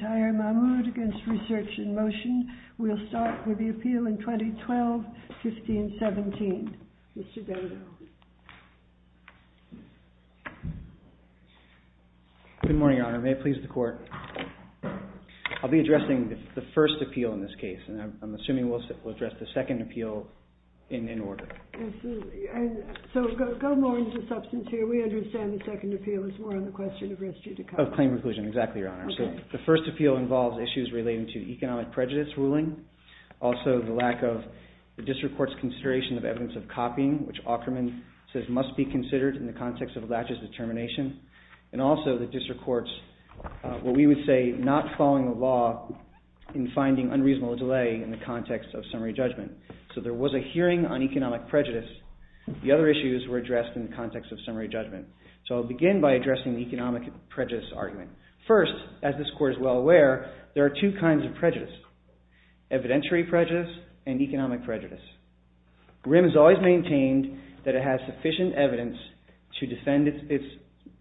TAHIR MAHMOOD v. RESEARCH IN MOTION TAHIR MAHMOOD v. RESEARCH IN MOTION RESEARCH IN MOTION Also, the lack of the district court's consideration of evidence of copying, which Aukerman says must be considered in the context of Latch's determination. And also the district court's, what we would say, not following the law in finding unreasonable delay in the context of summary judgment. So there was a hearing on economic prejudice. The other issues were addressed in the context of summary judgment. So I'll begin by addressing the economic prejudice argument. First, as this court is well aware, there are two kinds of prejudice, evidentiary prejudice and economic prejudice. RIM has always maintained that it has sufficient evidence to defend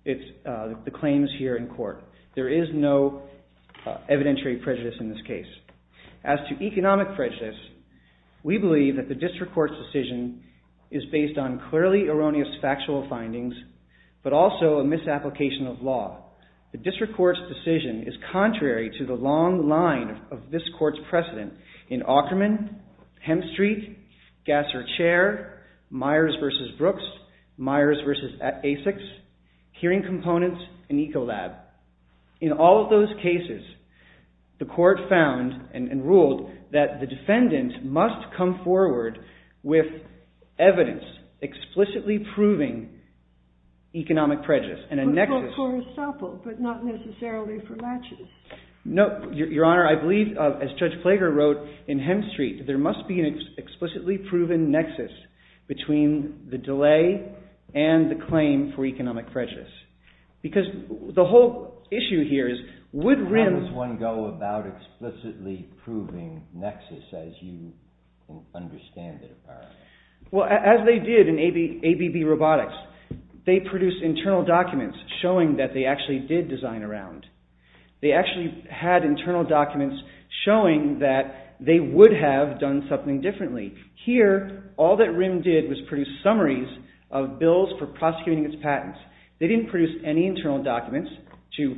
the claims here in court. There is no evidentiary prejudice in this case. As to economic prejudice, we believe that the district court's decision is based on clearly erroneous factual findings, but also a misapplication of law. The district court's decision is contrary to the long line of this court's precedent in Aukerman, Hemstreet, Gasser Chair, Myers v. Brooks, Myers v. Asics, Hearing Components, and Ecolab. In all of those cases, the court found and ruled that the defendant must come forward with evidence explicitly proving economic prejudice. But not necessarily for laches? No, Your Honor. I believe, as Judge Flager wrote in Hemstreet, there must be an explicitly proven nexus between the delay and the claim for economic prejudice. Because the whole issue here is, would RIM... How does one go about explicitly proving nexus, as you understand it, apparently? As they did in ABB Robotics, they produced internal documents showing that they actually did design a round. They actually had internal documents showing that they would have done something differently. Here, all that RIM did was produce summaries of bills for prosecuting its patents. They didn't produce any internal documents to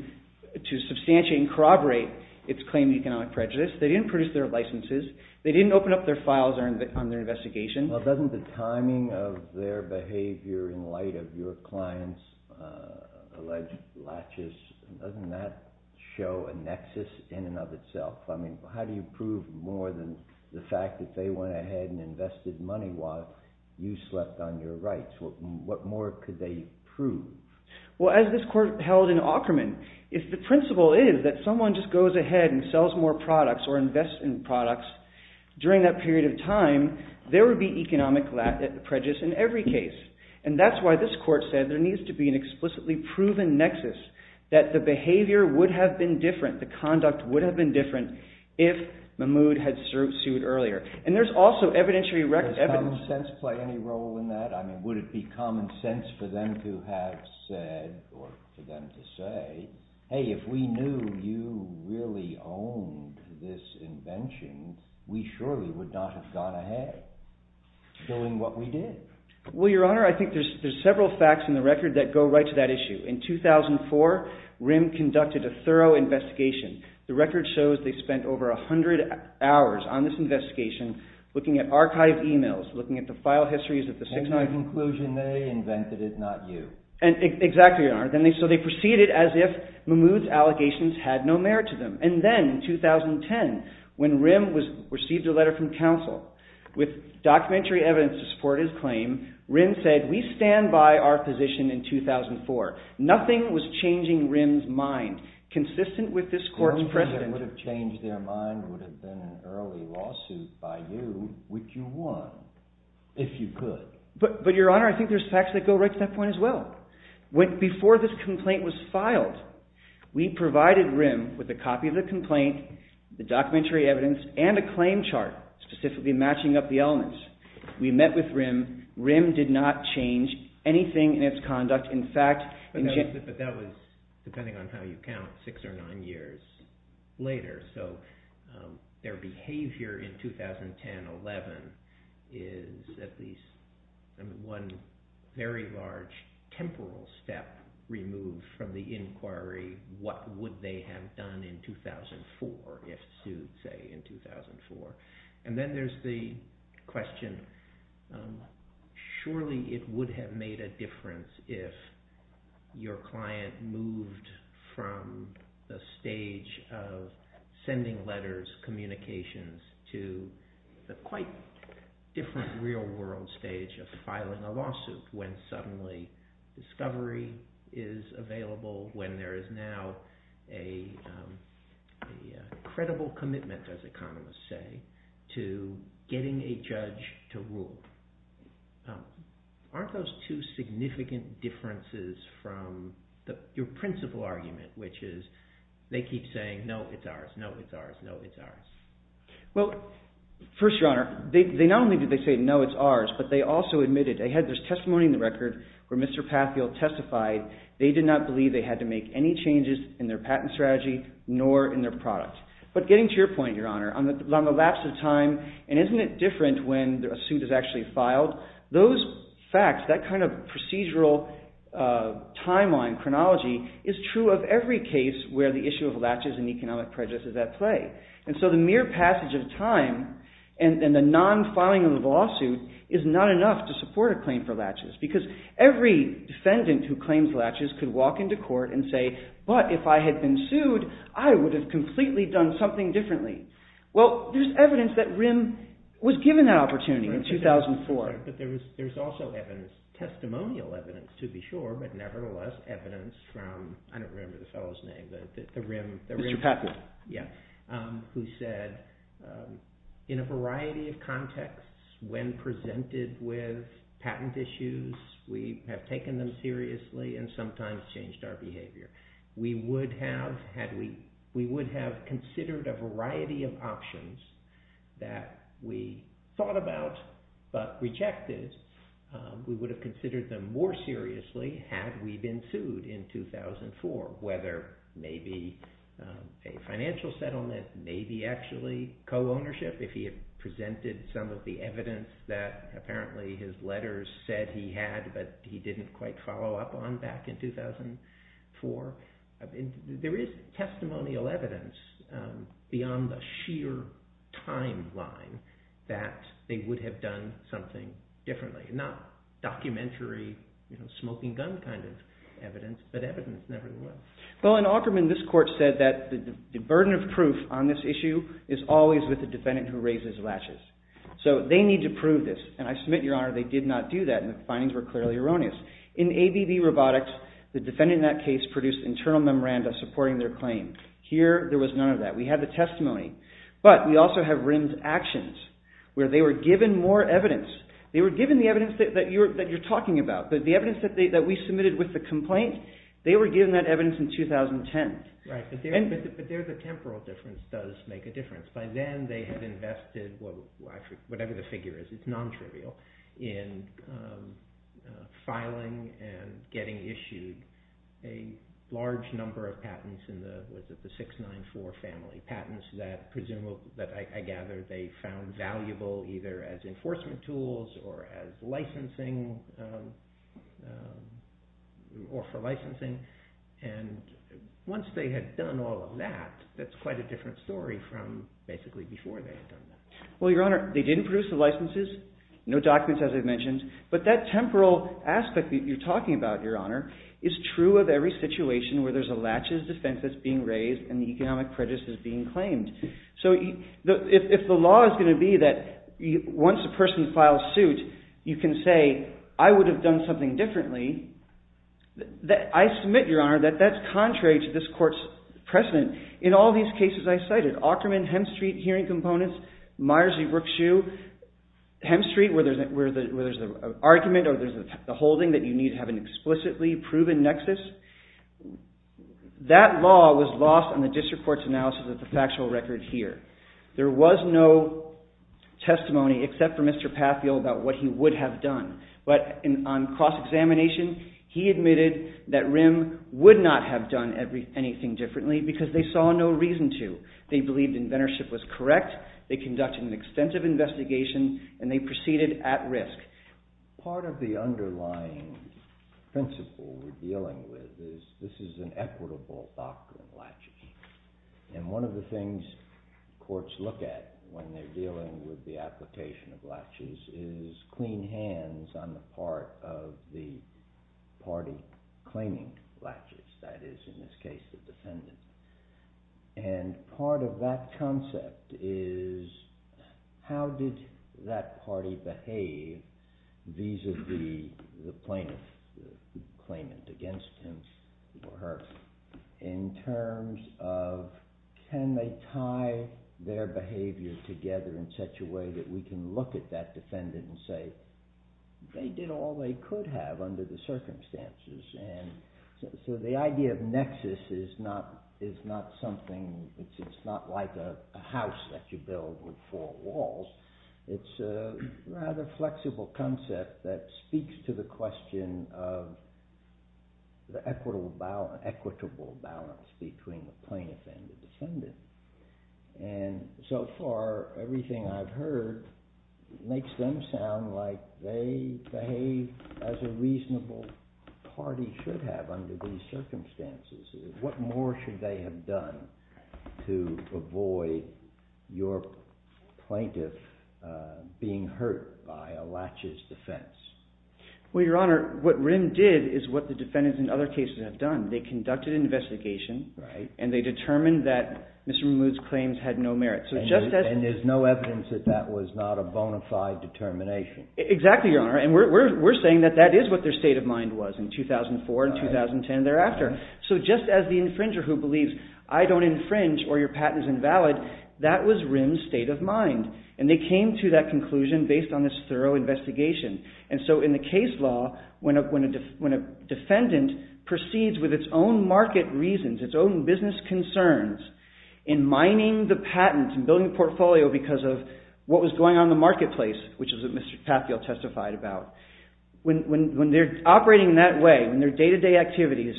substantiate and corroborate its claim to economic prejudice. They didn't produce their licenses. They didn't open up their files on their investigation. Well, doesn't the timing of their behavior in light of your client's alleged laches, doesn't that show a nexus in and of itself? I mean, how do you prove more than the fact that they went ahead and invested money while you slept on your rights? What more could they prove? Well, as this court held in Aukerman, if the principle is that someone just goes ahead and sells more products or invests in products during that period of time, there would be economic prejudice in every case. And that's why this court said there needs to be an explicitly proven nexus, that the behavior would have been different, the conduct would have been different, if Mahmoud had sued earlier. And there's also evidentiary evidence. Does common sense play any role in that? I mean, would it be common sense for them to have said, or for them to say, hey, if we knew you really owned this invention, we surely would not have gone ahead doing what we did. Well, Your Honor, I think there's several facts in the record that go right to that issue. In 2004, RIM conducted a thorough investigation. The record shows they spent over 100 hours on this investigation, looking at archived emails, looking at the file histories of the 699- Exactly, Your Honor. So they proceeded as if Mahmoud's allegations had no merit to them. And then, in 2010, when RIM received a letter from counsel with documentary evidence to support his claim, RIM said, we stand by our position in 2004. Nothing was changing RIM's mind, consistent with this court's precedent. The only thing that would have changed their mind would have been an early lawsuit by you, which you won, if you could. But Your Honor, I think there's facts that go right to that point as well. Before this complaint was filed, we provided RIM with a copy of the complaint, the documentary evidence, and a claim chart, specifically matching up the elements. We met with RIM. RIM did not change anything in its conduct. In fact- But that was, depending on how you count, six or nine years later. So their behavior in 2010-11 is at least one very large temporal step removed from the inquiry, what would they have done in 2004, if sued, say, in 2004. And then there's the question, surely it would have made a difference if your client moved from the stage of sending letters, communications, to the quite different real-world stage of filing a lawsuit, when suddenly discovery is available, when there is now a credible commitment, as economists say, to getting a judge to rule. Aren't those two significant differences from your principal argument, which is they keep saying, no, it's ours, no, it's ours, no, it's ours? Well, first, Your Honor, they not only did they say, no, it's ours, but they also admitted, they had this testimony in the record where Mr. Patheil testified they did not believe they had to make any changes in their patent strategy, nor in their product. But getting to your point, Your Honor, on the lapse of time, and isn't it different when a suit is actually filed, those facts, that kind of procedural timeline, chronology, is true of every case where the issue of latches and economic prejudice is at play. And so the mere passage of time and the non-filing of the lawsuit is not enough to support a claim for latches, because every defendant who claims latches could walk into court and say, but if I had been sued, I would have completely done something differently. Well, there's evidence that RIM was given that opportunity in 2004. But there's also evidence, testimonial evidence, to be sure, but nevertheless, evidence from, I don't remember the fellow's name, but the RIM. Mr. Patheil. Yeah. Who said, in a variety of contexts, when presented with patent issues, we have taken them seriously and sometimes changed our behavior. We would have considered a variety of options that we thought about, but rejected. We would have considered them more seriously had we been sued in 2004, whether maybe a financial settlement, maybe actually co-ownership, if he had presented some of the evidence that apparently his letters said he had, but he didn't quite follow up on back in 2004. There is testimonial evidence beyond the sheer timeline that they would have done something differently. Not documentary, smoking gun kind of evidence, but evidence nevertheless. Well, in Aukerman, this court said that the burden of proof on this issue is always with the defendant who raises latches. They need to prove this, and I submit, Your Honor, they did not do that, and the findings were clearly erroneous. In ABB Robotics, the defendant in that case produced internal memoranda supporting their claim. Here, there was none of that. We have the testimony, but we also have RIM's actions, where they were given more evidence. They were given the evidence that you're talking about, but the evidence that we submitted with the complaint, they were given that evidence in 2010. Right, but there's a temporal difference does make a difference. By then, they had invested, whatever the figure is, it's non-trivial, in filing and getting issued a large number of patents in the 694 family, patents that I gather they found valuable either as enforcement tools or for licensing, and once they had done all of that, that's basically before they had done that. Well, Your Honor, they didn't produce the licenses, no documents, as I've mentioned, but that temporal aspect that you're talking about, Your Honor, is true of every situation where there's a latches defense that's being raised and the economic prejudice is being claimed. So if the law is going to be that once a person files suit, you can say, I would have done something differently, I submit, Your Honor, that that's contrary to this court's precedent. In all these cases I cited, Aukerman, Hemstreet hearing components, Myers v. Brookshue, Hemstreet, where there's an argument or there's a holding that you need to have an explicitly proven nexus, that law was lost on the district court's analysis of the factual record here. There was no testimony except for Mr. Patheel about what he would have done, but on cross-examination, he admitted that RIM would not have done anything differently because they saw no reason to. They believed inventorship was correct, they conducted an extensive investigation, and they proceeded at risk. Part of the underlying principle we're dealing with is this is an equitable doctrine of latching. And one of the things courts look at when they're dealing with the application of latches is clean hands on the part of the party claiming latches, that is, in this case, the defendant. And part of that concept is how did that party behave vis-a-vis the plaintiff, the claimant against him or her, in terms of can they tie their behavior together in such a way that we can look at that defendant and say, they did all they could have under the circumstances. And so the idea of nexus is not something, it's not like a house that you build with four walls. It's a rather flexible concept that speaks to the question of the equitable balance between the plaintiff and the defendant. And so far, everything I've heard makes them sound like they behave as a reasonable party should have under these circumstances. What more should they have done to avoid your plaintiff being hurt by a latches defense? Well, Your Honor, what RIM did is what the defendants in other cases have done. They conducted an investigation and they determined that Mr. Mood's claims had no merit. And there's no evidence that that was not a bona fide determination. Exactly, Your Honor. And we're saying that that is what their state of mind was in 2004 and 2010 and thereafter. So just as the infringer who believes, I don't infringe or your patent is invalid, that was RIM's state of mind. And they came to that conclusion based on this thorough investigation. And so in the case law, when a defendant proceeds with its own market reasons, its own business concerns, in mining the patent and building the portfolio because of what was going on in the marketplace, which is what Mr. Tathiel testified about, when they're operating in that way, when their day-to-day activities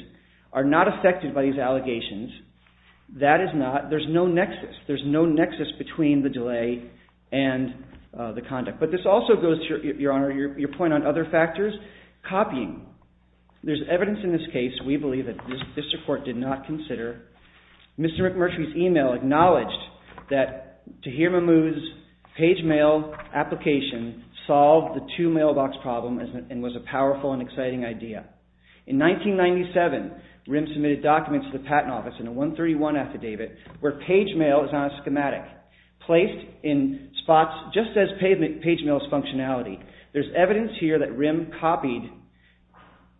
are not affected by these allegations, that is not, there's no nexus. There's no nexus between the delay and the conduct. But this also goes to, Your Honor, your point on other factors. Copying. There's evidence in this case we believe that this court did not consider. Mr. McMurtry's email acknowledged that Tahir Mahmood's page mail application solved the two-mailbox problem and was a powerful and exciting idea. In 1997, RIM submitted documents to the District Court in spots just as page mail's functionality. There's evidence here that RIM copied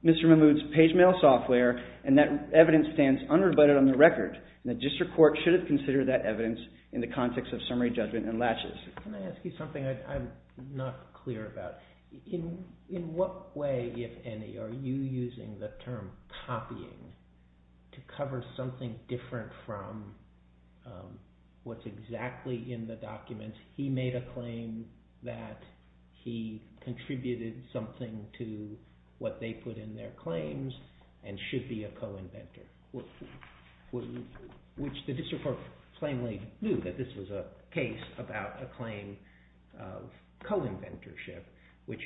Mr. Mahmood's page mail software, and that evidence stands unrebutted on the record. And the District Court should have considered that evidence in the context of summary judgment and latches. Can I ask you something I'm not clear about? In what way, if any, are you using the term copying to cover something different from what's exactly in the documents? He made a claim that he contributed something to what they put in their claims and should be a co-inventor, which the District Court plainly knew that this was a case about a claim of co-inventorship, which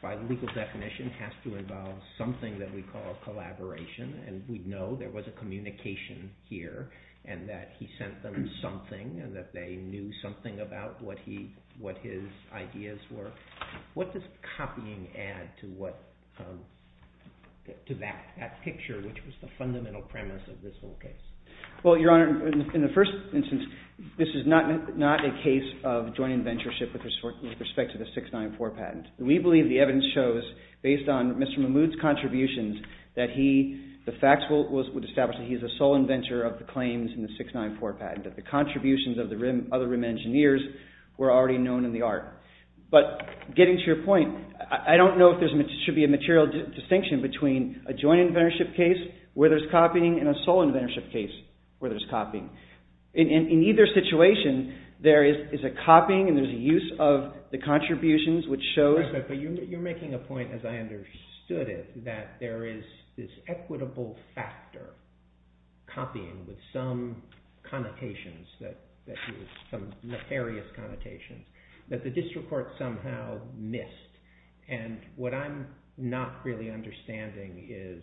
by the legal definition has to involve something that we call collaboration, and we know there was a communication here and that he sent them something and that they knew something about what his ideas were. What does copying add to that picture, which was the fundamental premise of this whole case? Well, Your Honor, in the first instance, this is not a case of joint inventorship with respect to the 694 patent. We believe the evidence shows, based on Mr. Mahmood's contributions, that the facts would establish that he is a sole inventor of the claims in the 694 patent, that the contributions of the other RIM engineers were already known in the art. But getting to your point, I don't know if there should be a material distinction between a joint inventorship case where there's copying and a sole inventorship case where there's copying. In either situation, there is a copying and there's a use of the contributions, which shows... But you're making a point, as I understood it, that there is this equitable factor, copying, with some connotations, some nefarious connotations, that the District Court somehow missed. And what I'm not really understanding is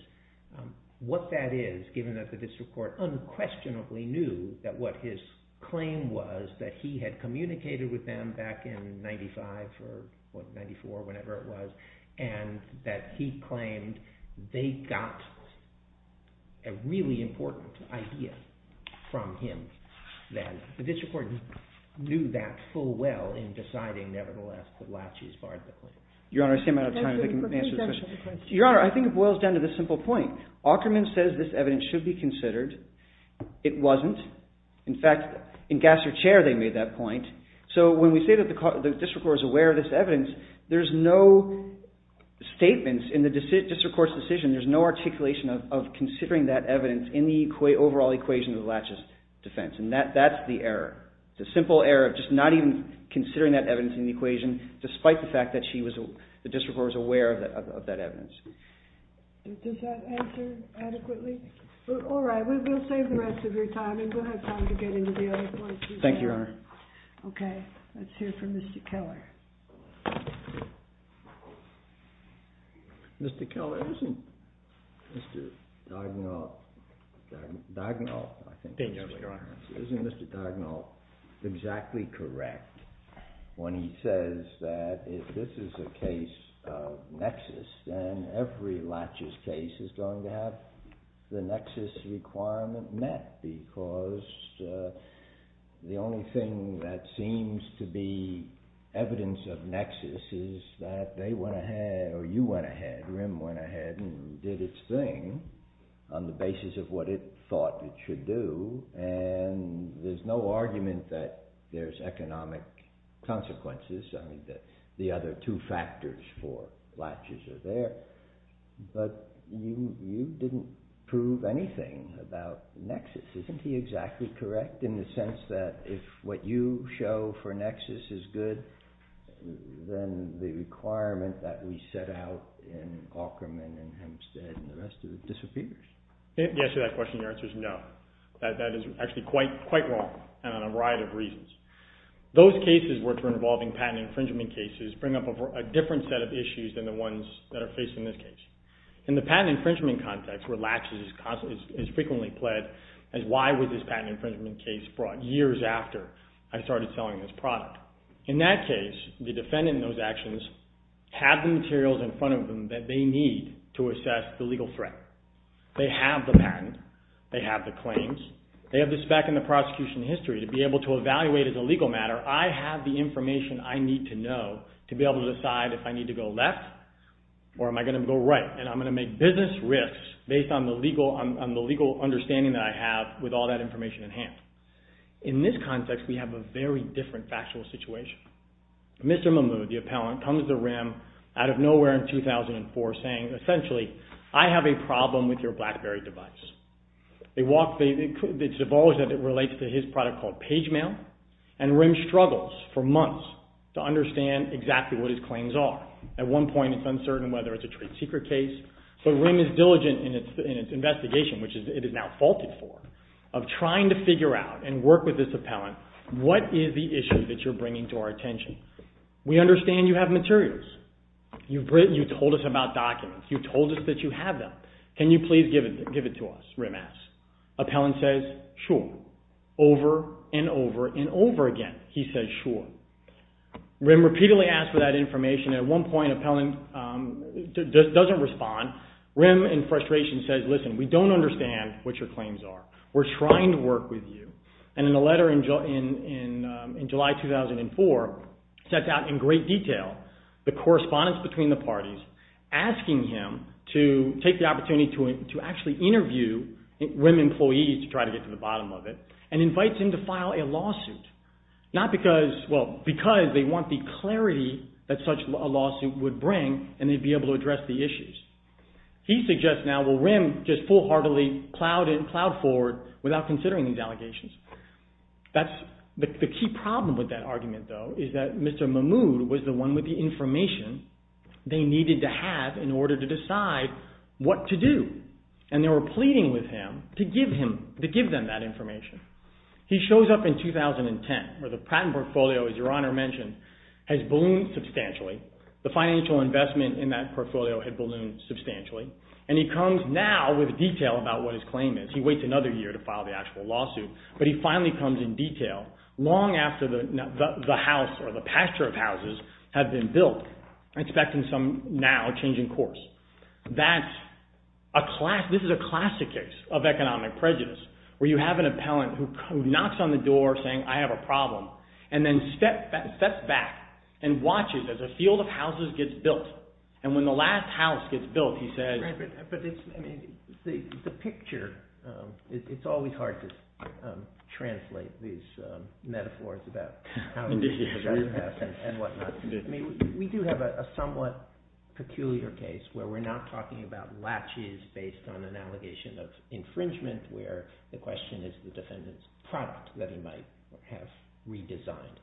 what that is, given that the District Court unquestionably knew that what his claim was, that he had communicated with them back in 1995 or 1994, whenever it was, and that he claimed they got a really important idea from him, that the District Court knew that full well in deciding, nevertheless, that Latchey's barred the claim. Your Honor, I see I'm out of time. Your Honor, I think it boils down to this simple point. Aukerman says this evidence should be considered. It wasn't. In fact, in Gasser Chair, they made that point. So when we say that the District Court is aware of this evidence, there's no statements in the District Court's decision, there's no articulation of considering that evidence in the overall equation of the Latchey's defense. And that's the error, the simple error of just not even considering that evidence in the equation, despite the fact that the District Court was aware of that evidence. Does that answer adequately? All right, we'll save the rest of your time, and we'll have time to get into the other points. Thank you, Your Honor. Okay, let's hear from Mr. Keller. Mr. Keller, isn't Mr. Dugnoff exactly correct when he says that if this is a case of nexus, then every Latchey's case is going to have the nexus requirement met, because the only thing that seems to be evidence of nexus is that they went ahead, or you went ahead, RIM went ahead and did its thing on the basis of what it thought it should do. And there's no argument that there's economic consequences. I mean, the other two factors for Latchey's are there. But you didn't prove anything about nexus. Isn't he exactly correct in the sense that if what you show for nexus is good, then the requirement that we set out in Aukerman and Hempstead and the rest of it disappears? To answer that question, the answer is no. That is actually quite wrong, and on a variety of reasons. Those cases, which were involving patent infringement cases, bring up a different set of issues than the ones that are faced in this case. In the patent infringement context, where Latchey's is frequently pled, as why was this patent infringement case brought years after I started selling this product? In that case, the defendant in those actions had the materials in front of them that they need to assess the legal threat. They have the patent. They have the claims. They have this back in the prosecution history. To be able to evaluate as a legal matter, I have the information I need to know to be able to decide if I need to go left or am I going to go right, and I'm going to make business risks based on the legal understanding that I have with all that information at hand. In this context, we have a very different factual situation. Mr. Mahmoud, the appellant, comes to the rim out of nowhere in 2004 saying, essentially, I have a problem with your BlackBerry device. They walk, they divulge that it relates to his product called Pagemail, and Rim struggles for months to understand exactly what his claims are. At one point, it's uncertain whether it's a trade secret case. So Rim is diligent in its investigation, which it has now faulted for, of trying to figure out and work with this appellant, what is the issue that you're bringing to our attention? We understand you have materials. You told us about documents. You told us that you have them. Can you please give it to us, Rim asks. Appellant says, sure, over and over and over again, he says, sure. Rim repeatedly asks for that information. At one point, appellant doesn't respond. Rim, in frustration, says, listen, we don't understand what your claims are. We're trying to work with you. And in a letter in July 2004, sets out in great detail the correspondence between the parties, asking him to take the opportunity to actually interview Rim employees, to try to get to the bottom of it, and invites him to file a lawsuit, because they want the clarity that such a lawsuit would bring, and they'd be able to address the issues. He suggests now, well, Rim just full-heartedly plowed forward The key problem with that argument, though, is that Mr. Mahmood was the one with the information they needed to have in order to decide what to do. And they were pleading with him to give them that information. He shows up in 2010, where the patent portfolio, as your Honor mentioned, has ballooned substantially. The financial investment in that portfolio had ballooned substantially. And he comes now with detail about what his claim is. He waits another year to file the actual lawsuit. But he finally comes in detail, long after the house, or the pasture of houses, had been built, expecting some now changing course. This is a classic case of economic prejudice, where you have an appellant who knocks on the door saying, I have a problem, and then steps back and watches as a field of houses gets built. And when the last house gets built, he says... The picture... It's always hard to translate these metaphors about how things are going to happen and whatnot. We do have a somewhat peculiar case where we're not talking about latches based on an allegation of infringement, where the question is the defendant's product that he might have redesigned.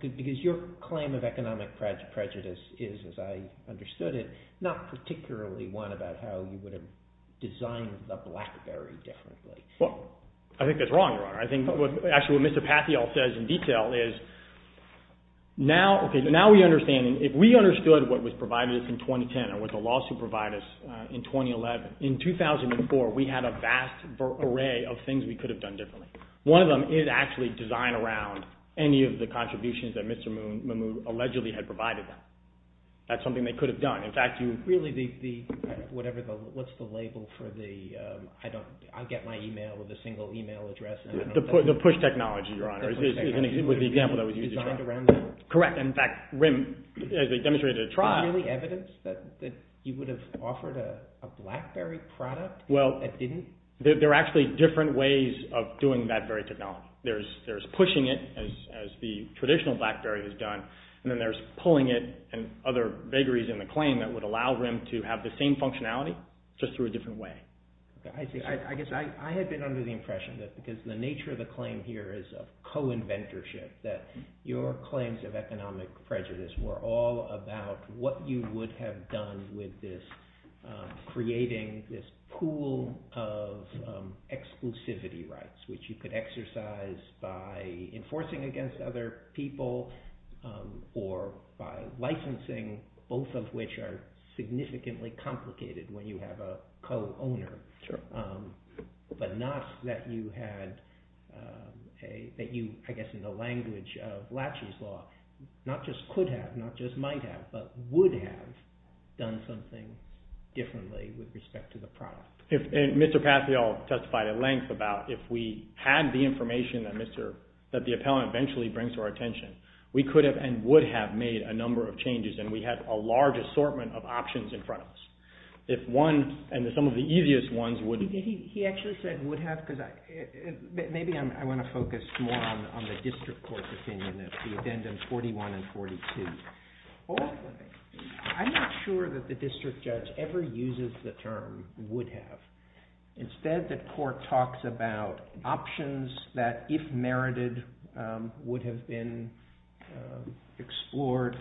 Because your claim of economic prejudice is, as I understood it, not particularly one about how you would have designed the blackberry differently. Well, I think that's wrong, Your Honor. Actually, what Mr. Patheol says in detail is... Now we understand. If we understood what was provided to us in 2010, or what the lawsuit provided us in 2011, in 2004, we had a vast array of things we could have done differently. One of them is actually design around any of the contributions that Mr. Mahmoud allegedly had provided them. That's something they could have done. Really, the... What's the label for the... I'll get my email with a single email address. The push technology, Your Honor. With the example that was used. Correct. In fact, as they demonstrated at a trial... Is there really evidence that he would have offered a blackberry product and didn't? There are actually different ways of doing that very technology. There's pushing it, as the traditional blackberry has done, and then there's pulling it and other vagaries in the claim that would allow them to have the same functionality, just through a different way. I guess I had been under the impression that, because the nature of the claim here is of co-inventorship, that your claims of economic prejudice were all about what you would have done with this creating this pool of exclusivity rights, which you could exercise by enforcing against other people, or by licensing, both of which are significantly complicated when you have a co-owner. Sure. But not that you had a... That you, I guess in the language of Latchey's Law, not just could have, not just might have, but would have done something differently with respect to the product. And Mr. Patheol testified at length about, if we had the information that the appellant eventually brings to our attention, we could have and would have made a number of changes, and we had a large assortment of options in front of us. If one, and some of the easiest ones would... He actually said would have, because maybe I want to focus more on the district court's opinion, the addendum 41 and 42. I'm not sure that the district judge ever uses the term would have. Instead, the court talks about options that, if merited, would have been explored.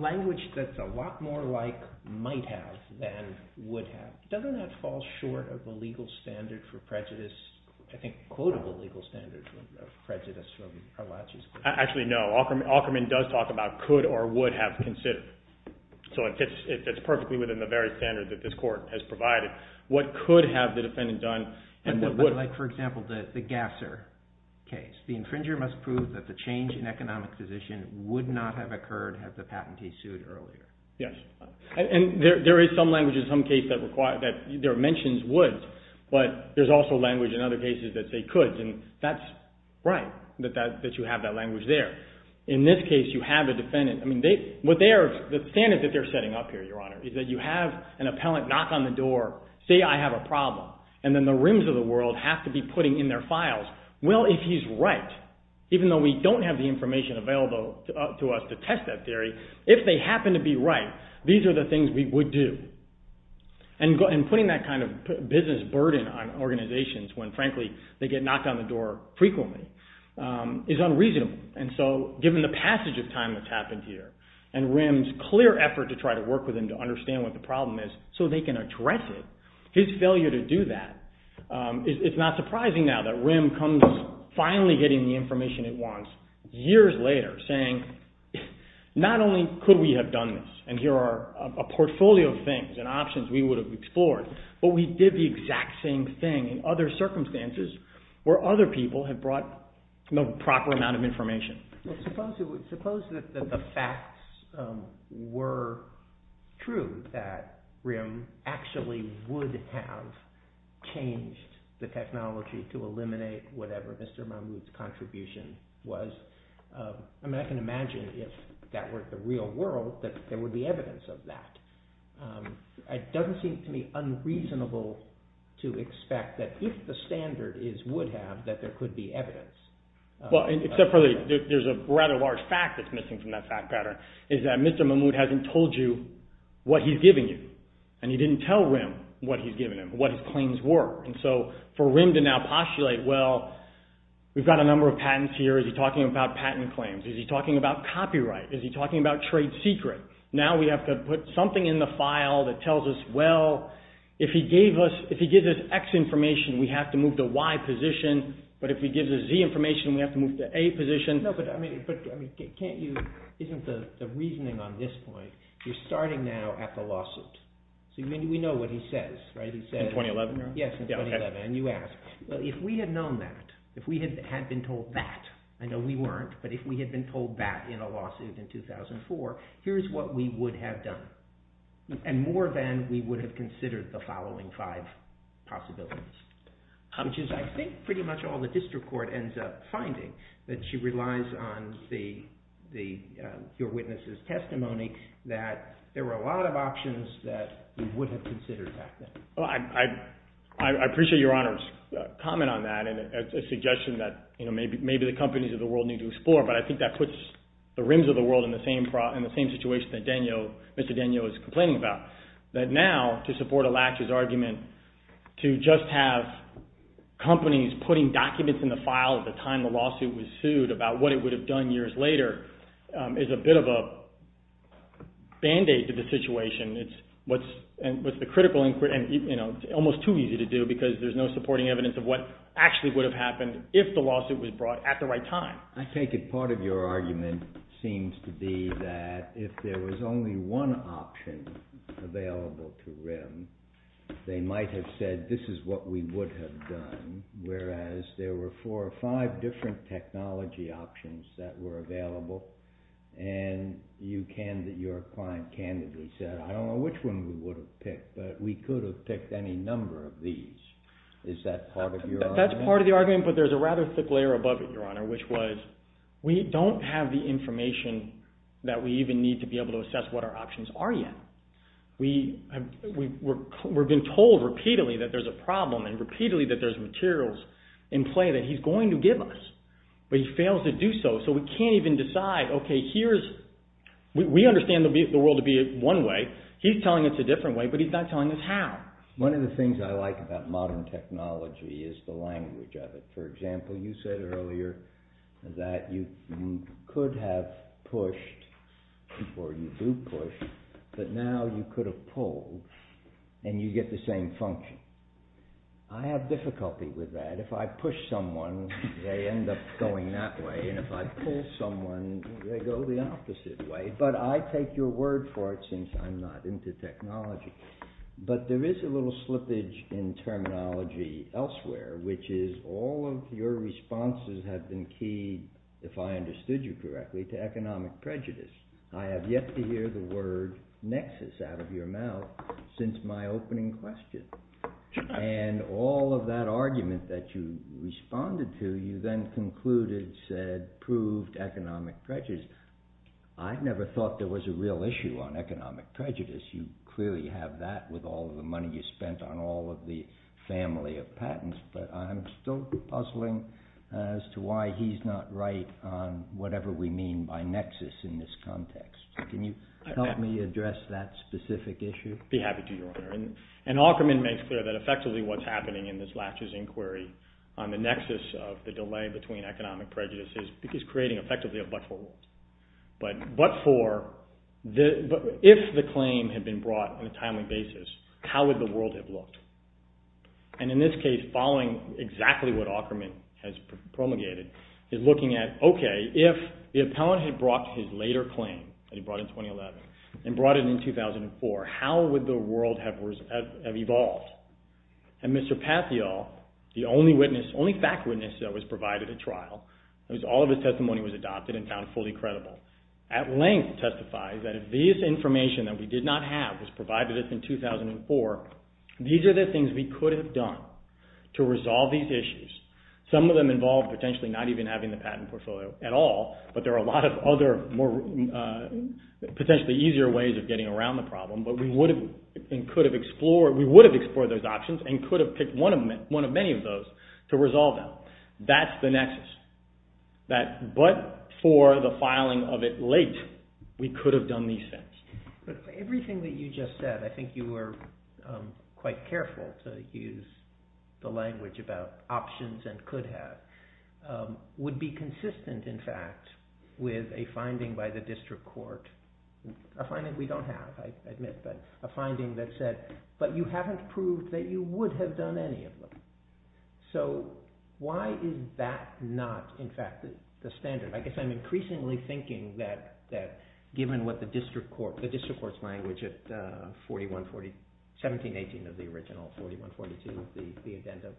Language that's a lot more like might have than would have. Doesn't that fall short of the legal standard for prejudice? I think a quote of a legal standard of prejudice from Latchey's... Actually, no. Aukerman does talk about could or would have considered. So it fits perfectly within the very standard that this court has provided. What could have the defendant done, and what would... The infringer must prove that the change in economic position would not have occurred had the patentee sued earlier. Yes. And there is some language in some cases that mentions would, but there's also language in other cases that say could, and that's right that you have that language there. In this case, you have a defendant... The standard that they're setting up here, Your Honor, is that you have an appellant knock on the door, say, I have a problem, and then the rims of the world have to be putting in their files, well, if he's right, even though we don't have the information available to us to test that theory, if they happen to be right, these are the things we would do. And putting that kind of business burden on organizations when, frankly, they get knocked on the door frequently is unreasonable. And so given the passage of time that's happened here and RIM's clear effort to try to work with them to understand what the problem is so they can address it, his failure to do that, it's not surprising now that RIM comes finally getting the information it wants years later saying not only could we have done this and here are a portfolio of things and options we would have explored, but we did the exact same thing in other circumstances where other people had brought no proper amount of information. Well, suppose that the facts were true that RIM actually would have changed the technology to eliminate whatever Mr. Mahmoud's contribution was. I mean, I can imagine if that were the real world that there would be evidence of that. It doesn't seem to me unreasonable to expect that if the standard is would have, that there could be evidence. Well, except for there's a rather large fact that's missing from that fact pattern is that Mr. Mahmoud hasn't told you what he's giving you and he didn't tell RIM what he's giving him, what his claims were. And so for RIM to now postulate, well, we've got a number of patents here, is he talking about patent claims? Is he talking about copyright? Is he talking about trade secret? Now we have to put something in the file that tells us, well, if he gives us X information, we have to move to Y position, but if he gives us Z information, we have to move to A position. No, but I mean, can't you, isn't the reasoning on this point, you're starting now at the lawsuit. So we know what he says, right? In 2011? Yes, in 2011, and you asked. Well, if we had known that, if we had been told that, I know we weren't, but if we had been told that in a lawsuit in 2004, here's what we would have done. And more than we would have considered the following five possibilities. Which is, I think, pretty much all the district court ends up finding, that she relies on your witness' testimony, that there were a lot of options that we would have considered back then. Well, I appreciate Your Honor's comment on that, and a suggestion that maybe the companies of the world need to explore, but I think that puts the rims of the world in the same situation that Mr. Danio is complaining about. That now, to support Alacha's argument, to just have companies putting documents in the file at the time the lawsuit was sued about what it would have done years later, is a bit of a band-aid to the situation. It's what's the critical inquiry, and almost too easy to do, because there's no supporting evidence of what actually would have happened if the lawsuit was brought at the right time. I take it part of your argument seems to be that if there was only one option available to RIM, they might have said, this is what we would have done, whereas there were four or five different technology options that were available, and your client candidly said, I don't know which one we would have picked, but we could have picked any number of these. Is that part of your argument? That's part of the argument, but there's a rather thick layer above it, Your Honor, which was, we don't have the information that we even need to be able to assess what our options are yet. We've been told repeatedly that there's a problem, and repeatedly that there's materials in play that he's going to give us, but he fails to do so, so we can't even decide, okay, we understand the world to be one way, he's telling us a different way, but he's not telling us how. One of the things I like about modern technology is the language of it. For example, you said earlier that you could have pushed, or you do push, but now you could have pulled, and you get the same function. I have difficulty with that. If I push someone, they end up going that way, and if I pull someone, they go the opposite way, but I take your word for it since I'm not into technology. But there is a little slippage in terminology elsewhere, which is all of your responses have been keyed, if I understood you correctly, to economic prejudice. I have yet to hear the word nexus out of your mouth since my opening question, and all of that argument that you responded to, you then concluded, said, proved economic prejudice. I never thought there was a real issue on economic prejudice. You clearly have that with all of the money you spent on all of the family of patents, but I'm still puzzling as to why he's not right on whatever we mean by nexus in this context. Can you help me address that specific issue? I'd be happy to, Your Honor, and Aukerman makes clear that effectively what's happening in this latches inquiry on the nexus of the delay between economic prejudice is creating effectively a but-for world. But-for, if the claim had been brought on a timely basis, how would the world have looked? And in this case, following exactly what Aukerman has promulgated, he's looking at, okay, if the appellant had brought his later claim that he brought in 2011 and brought it in 2004, how would the world have evolved? And Mr. Patheol, the only fact witness that was provided at trial, because all of his testimony was adopted and found fully credible, at length testifies that if this information that we did not have was provided to us in 2004, these are the things we could have done to resolve these issues. Some of them involve potentially not even having the patent portfolio at all, but there are a lot of other more potentially easier ways of getting around the problem, but we would have explored those options and could have picked one of many of those to resolve them. So that's the nexus. But for the filing of it late, we could have done these things. Everything that you just said, I think you were quite careful to use the language about options and could have, would be consistent, in fact, with a finding by the district court, a finding we don't have, I admit, but a finding that said, but you haven't proved that you would have done any of them. So why is that not, in fact, the standard? I guess I'm increasingly thinking that given what the district court, the district court's language at 17-18 of the original, 41-42 of the addendum,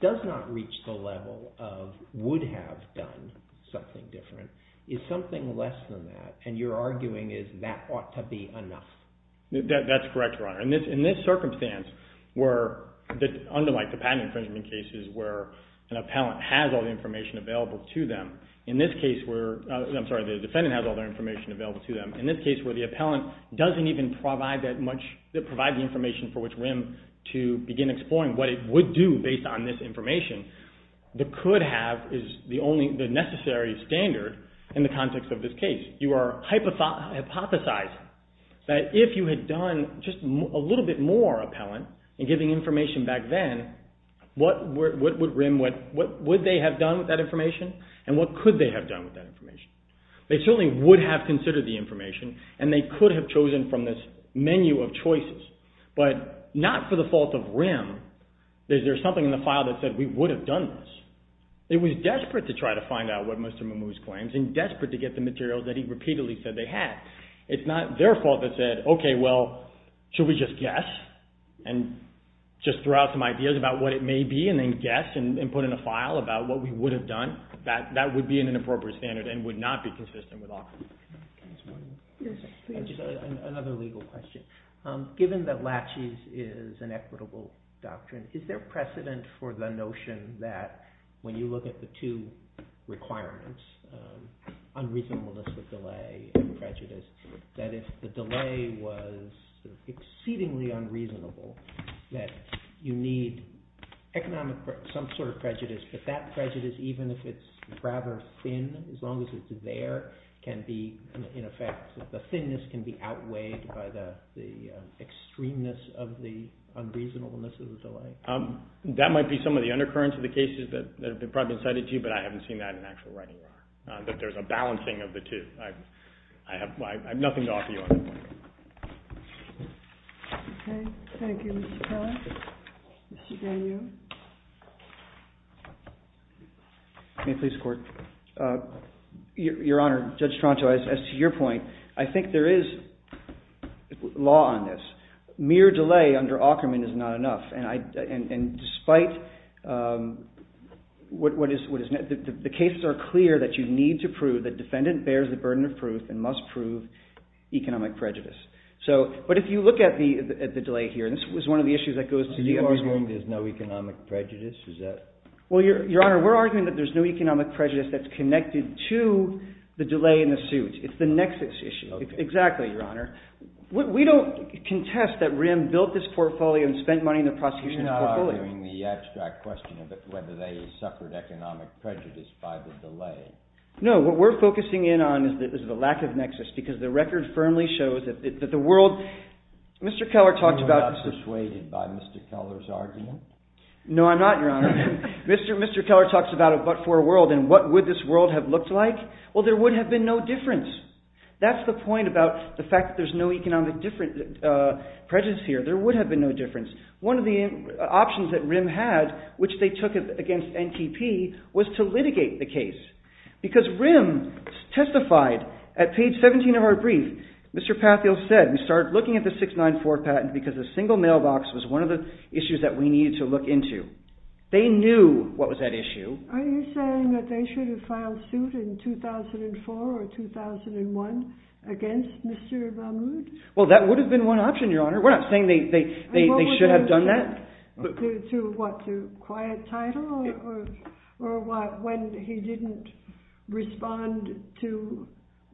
does not reach the level of would have done something different. Is something less than that, and your arguing is that ought to be enough. That's correct, Your Honor. In this circumstance, unlike the patent infringement cases where an appellant has all the information available to them, in this case where, I'm sorry, the defendant has all their information available to them, in this case where the appellant doesn't even provide that much, doesn't provide the information for which rim to begin exploring what it would do based on this information, the could have is the necessary standard in the context of this case. You are hypothesizing that if you had done just a little bit more appellant in giving information back then, what would they have done with that information and what could they have done with that information? They certainly would have considered the information and they could have chosen from this menu of choices, but not for the fault of rim. There's something in the file that said we would have done this. It was desperate to try to find out what Mr. Mamoose claims and desperate to get the material that he repeatedly said they had. It's not their fault that said, okay, well, should we just guess and just throw out some ideas about what it may be and then guess and put in a file about what we would have done. That would be an inappropriate standard and would not be consistent with offense. Another legal question. Given that laches is an equitable doctrine, is there precedent for the notion that when you look at the two requirements, unreasonableness of delay and prejudice, that if the delay was exceedingly unreasonable that you need some sort of prejudice, but that prejudice, even if it's rather thin, as long as it's there, can be in effect. The thinness can be outweighed by the extremeness of the unreasonableness of the delay. That might be some of the undercurrents of the cases that have probably been cited to you, but I haven't seen that in actual writing yet, that there's a balancing of the two. I have nothing to offer you on that point. Okay. Thank you, Mr. Keller. Mr. Daniel. May it please the Court? Your Honor, Judge Stronto, as to your point, I think there is law on this. Mere delay under Aukerman is not enough, and despite what is... The cases are clear that you need to prove that defendant bears the burden of proof and must prove economic prejudice. But if you look at the delay here, and this was one of the issues that goes to the... Are you arguing there's no economic prejudice? Your Honor, we're arguing that there's no economic prejudice that's connected to the delay in the suit. It's the nexus issue. Exactly, Your Honor. We don't contest that Rim built this portfolio and spent money in the prosecution's portfolio. You're not arguing the abstract question of whether they suffered economic prejudice by the delay. No, what we're focusing in on is the lack of nexus because the record firmly shows that the world... Mr. Keller talked about... Are you not persuaded by Mr. Keller's argument? No, I'm not, Your Honor. Mr. Keller talks about a but-for world, and what would this world have looked like? Well, there would have been no difference. That's the point about the fact that there's no economic prejudice here. There would have been no difference. One of the options that Rim had, which they took against NTP, was to litigate the case because Rim testified at page 17 of our brief. Mr. Patheel said, we started looking at the 694 patent because a single mailbox was one of the issues that we needed to look into. They knew what was at issue. Are you saying that they should have filed suit in 2004 or 2001 against Mr. Mahmoud? Well, that would have been one option, Your Honor. We're not saying they should have done that. To what? To quiet title? Or when he didn't respond to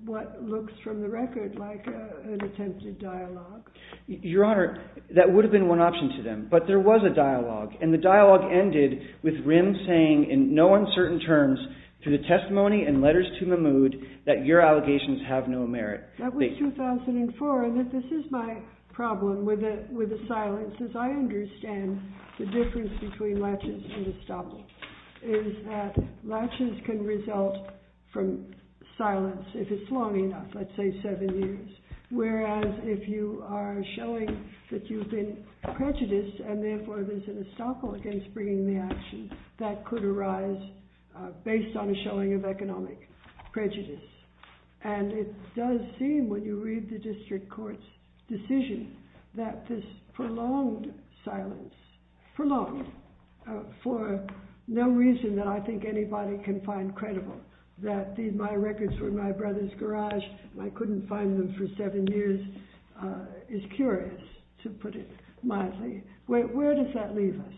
what looks from the record like an attempted dialogue? Your Honor, that would have been one option to them. But there was a dialogue, and the dialogue ended with Rim saying in no uncertain terms through the testimony and letters to Mahmoud that your allegations have no merit. That was 2004, and this is my problem with the silence is I understand the difference between laches and estoppel is that laches can result from silence if it's long enough, let's say seven years, whereas if you are showing that you've been prejudiced and therefore there's an estoppel against bringing the action, that could arise based on a showing of economic prejudice. And it does seem when you read the district court's decision that this prolonged silence, prolonged for no reason that I think anybody can find credible, that my records were in my brother's garage and I couldn't find them for seven years is curious, to put it mildly. Where does that leave us?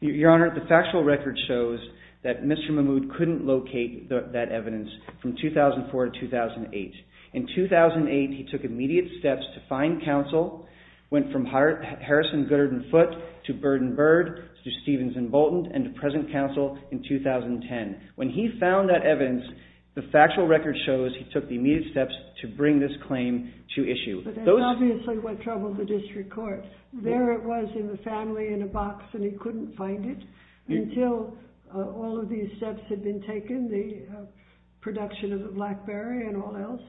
Your Honor, the factual record shows that Mr. Mahmoud couldn't locate that evidence from 2004 to 2008. In 2008, he took immediate steps to find counsel, went from Harrison, Goodert and Foote to Bird and Bird to Stevens and Bolton and to present counsel in 2010. When he found that evidence, the factual record shows he took the immediate steps to bring this claim to issue. But that's obviously what troubled the district court. There it was in the family in a box and he couldn't find it until all of these steps had been taken, the production of the BlackBerry and all else.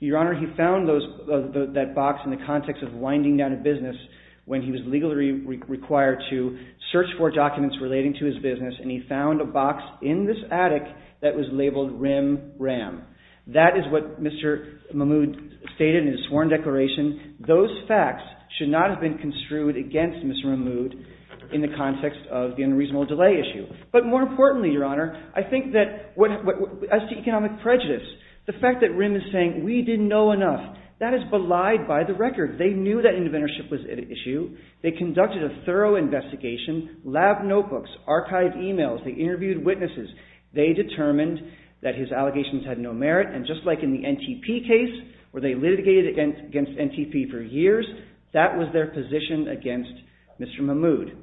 Your Honor, he found that box in the context of winding down a business when he was legally required to search for documents relating to his business and he found a box in this attic that was labeled RIM RAM. That is what Mr. Mahmoud stated in his sworn declaration. Those facts should not have been construed against Mr. Mahmoud in the context of the unreasonable delay issue. But more importantly, Your Honor, I think that as to economic prejudice, the fact that RIM is saying we didn't know enough, that is belied by the record. They knew that interventorship was at issue. They conducted a thorough investigation, lab notebooks, archive emails. They interviewed witnesses. They determined that his allegations had no merit and just like in the NTP case where they litigated against NTP for years, that was their position against Mr. Mahmoud.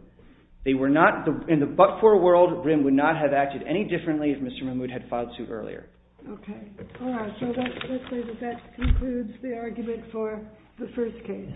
In the but-for world, RIM would not have acted any differently if Mr. Mahmoud had filed suit earlier. Okay. All right. So let's say that that concludes the argument for the first case.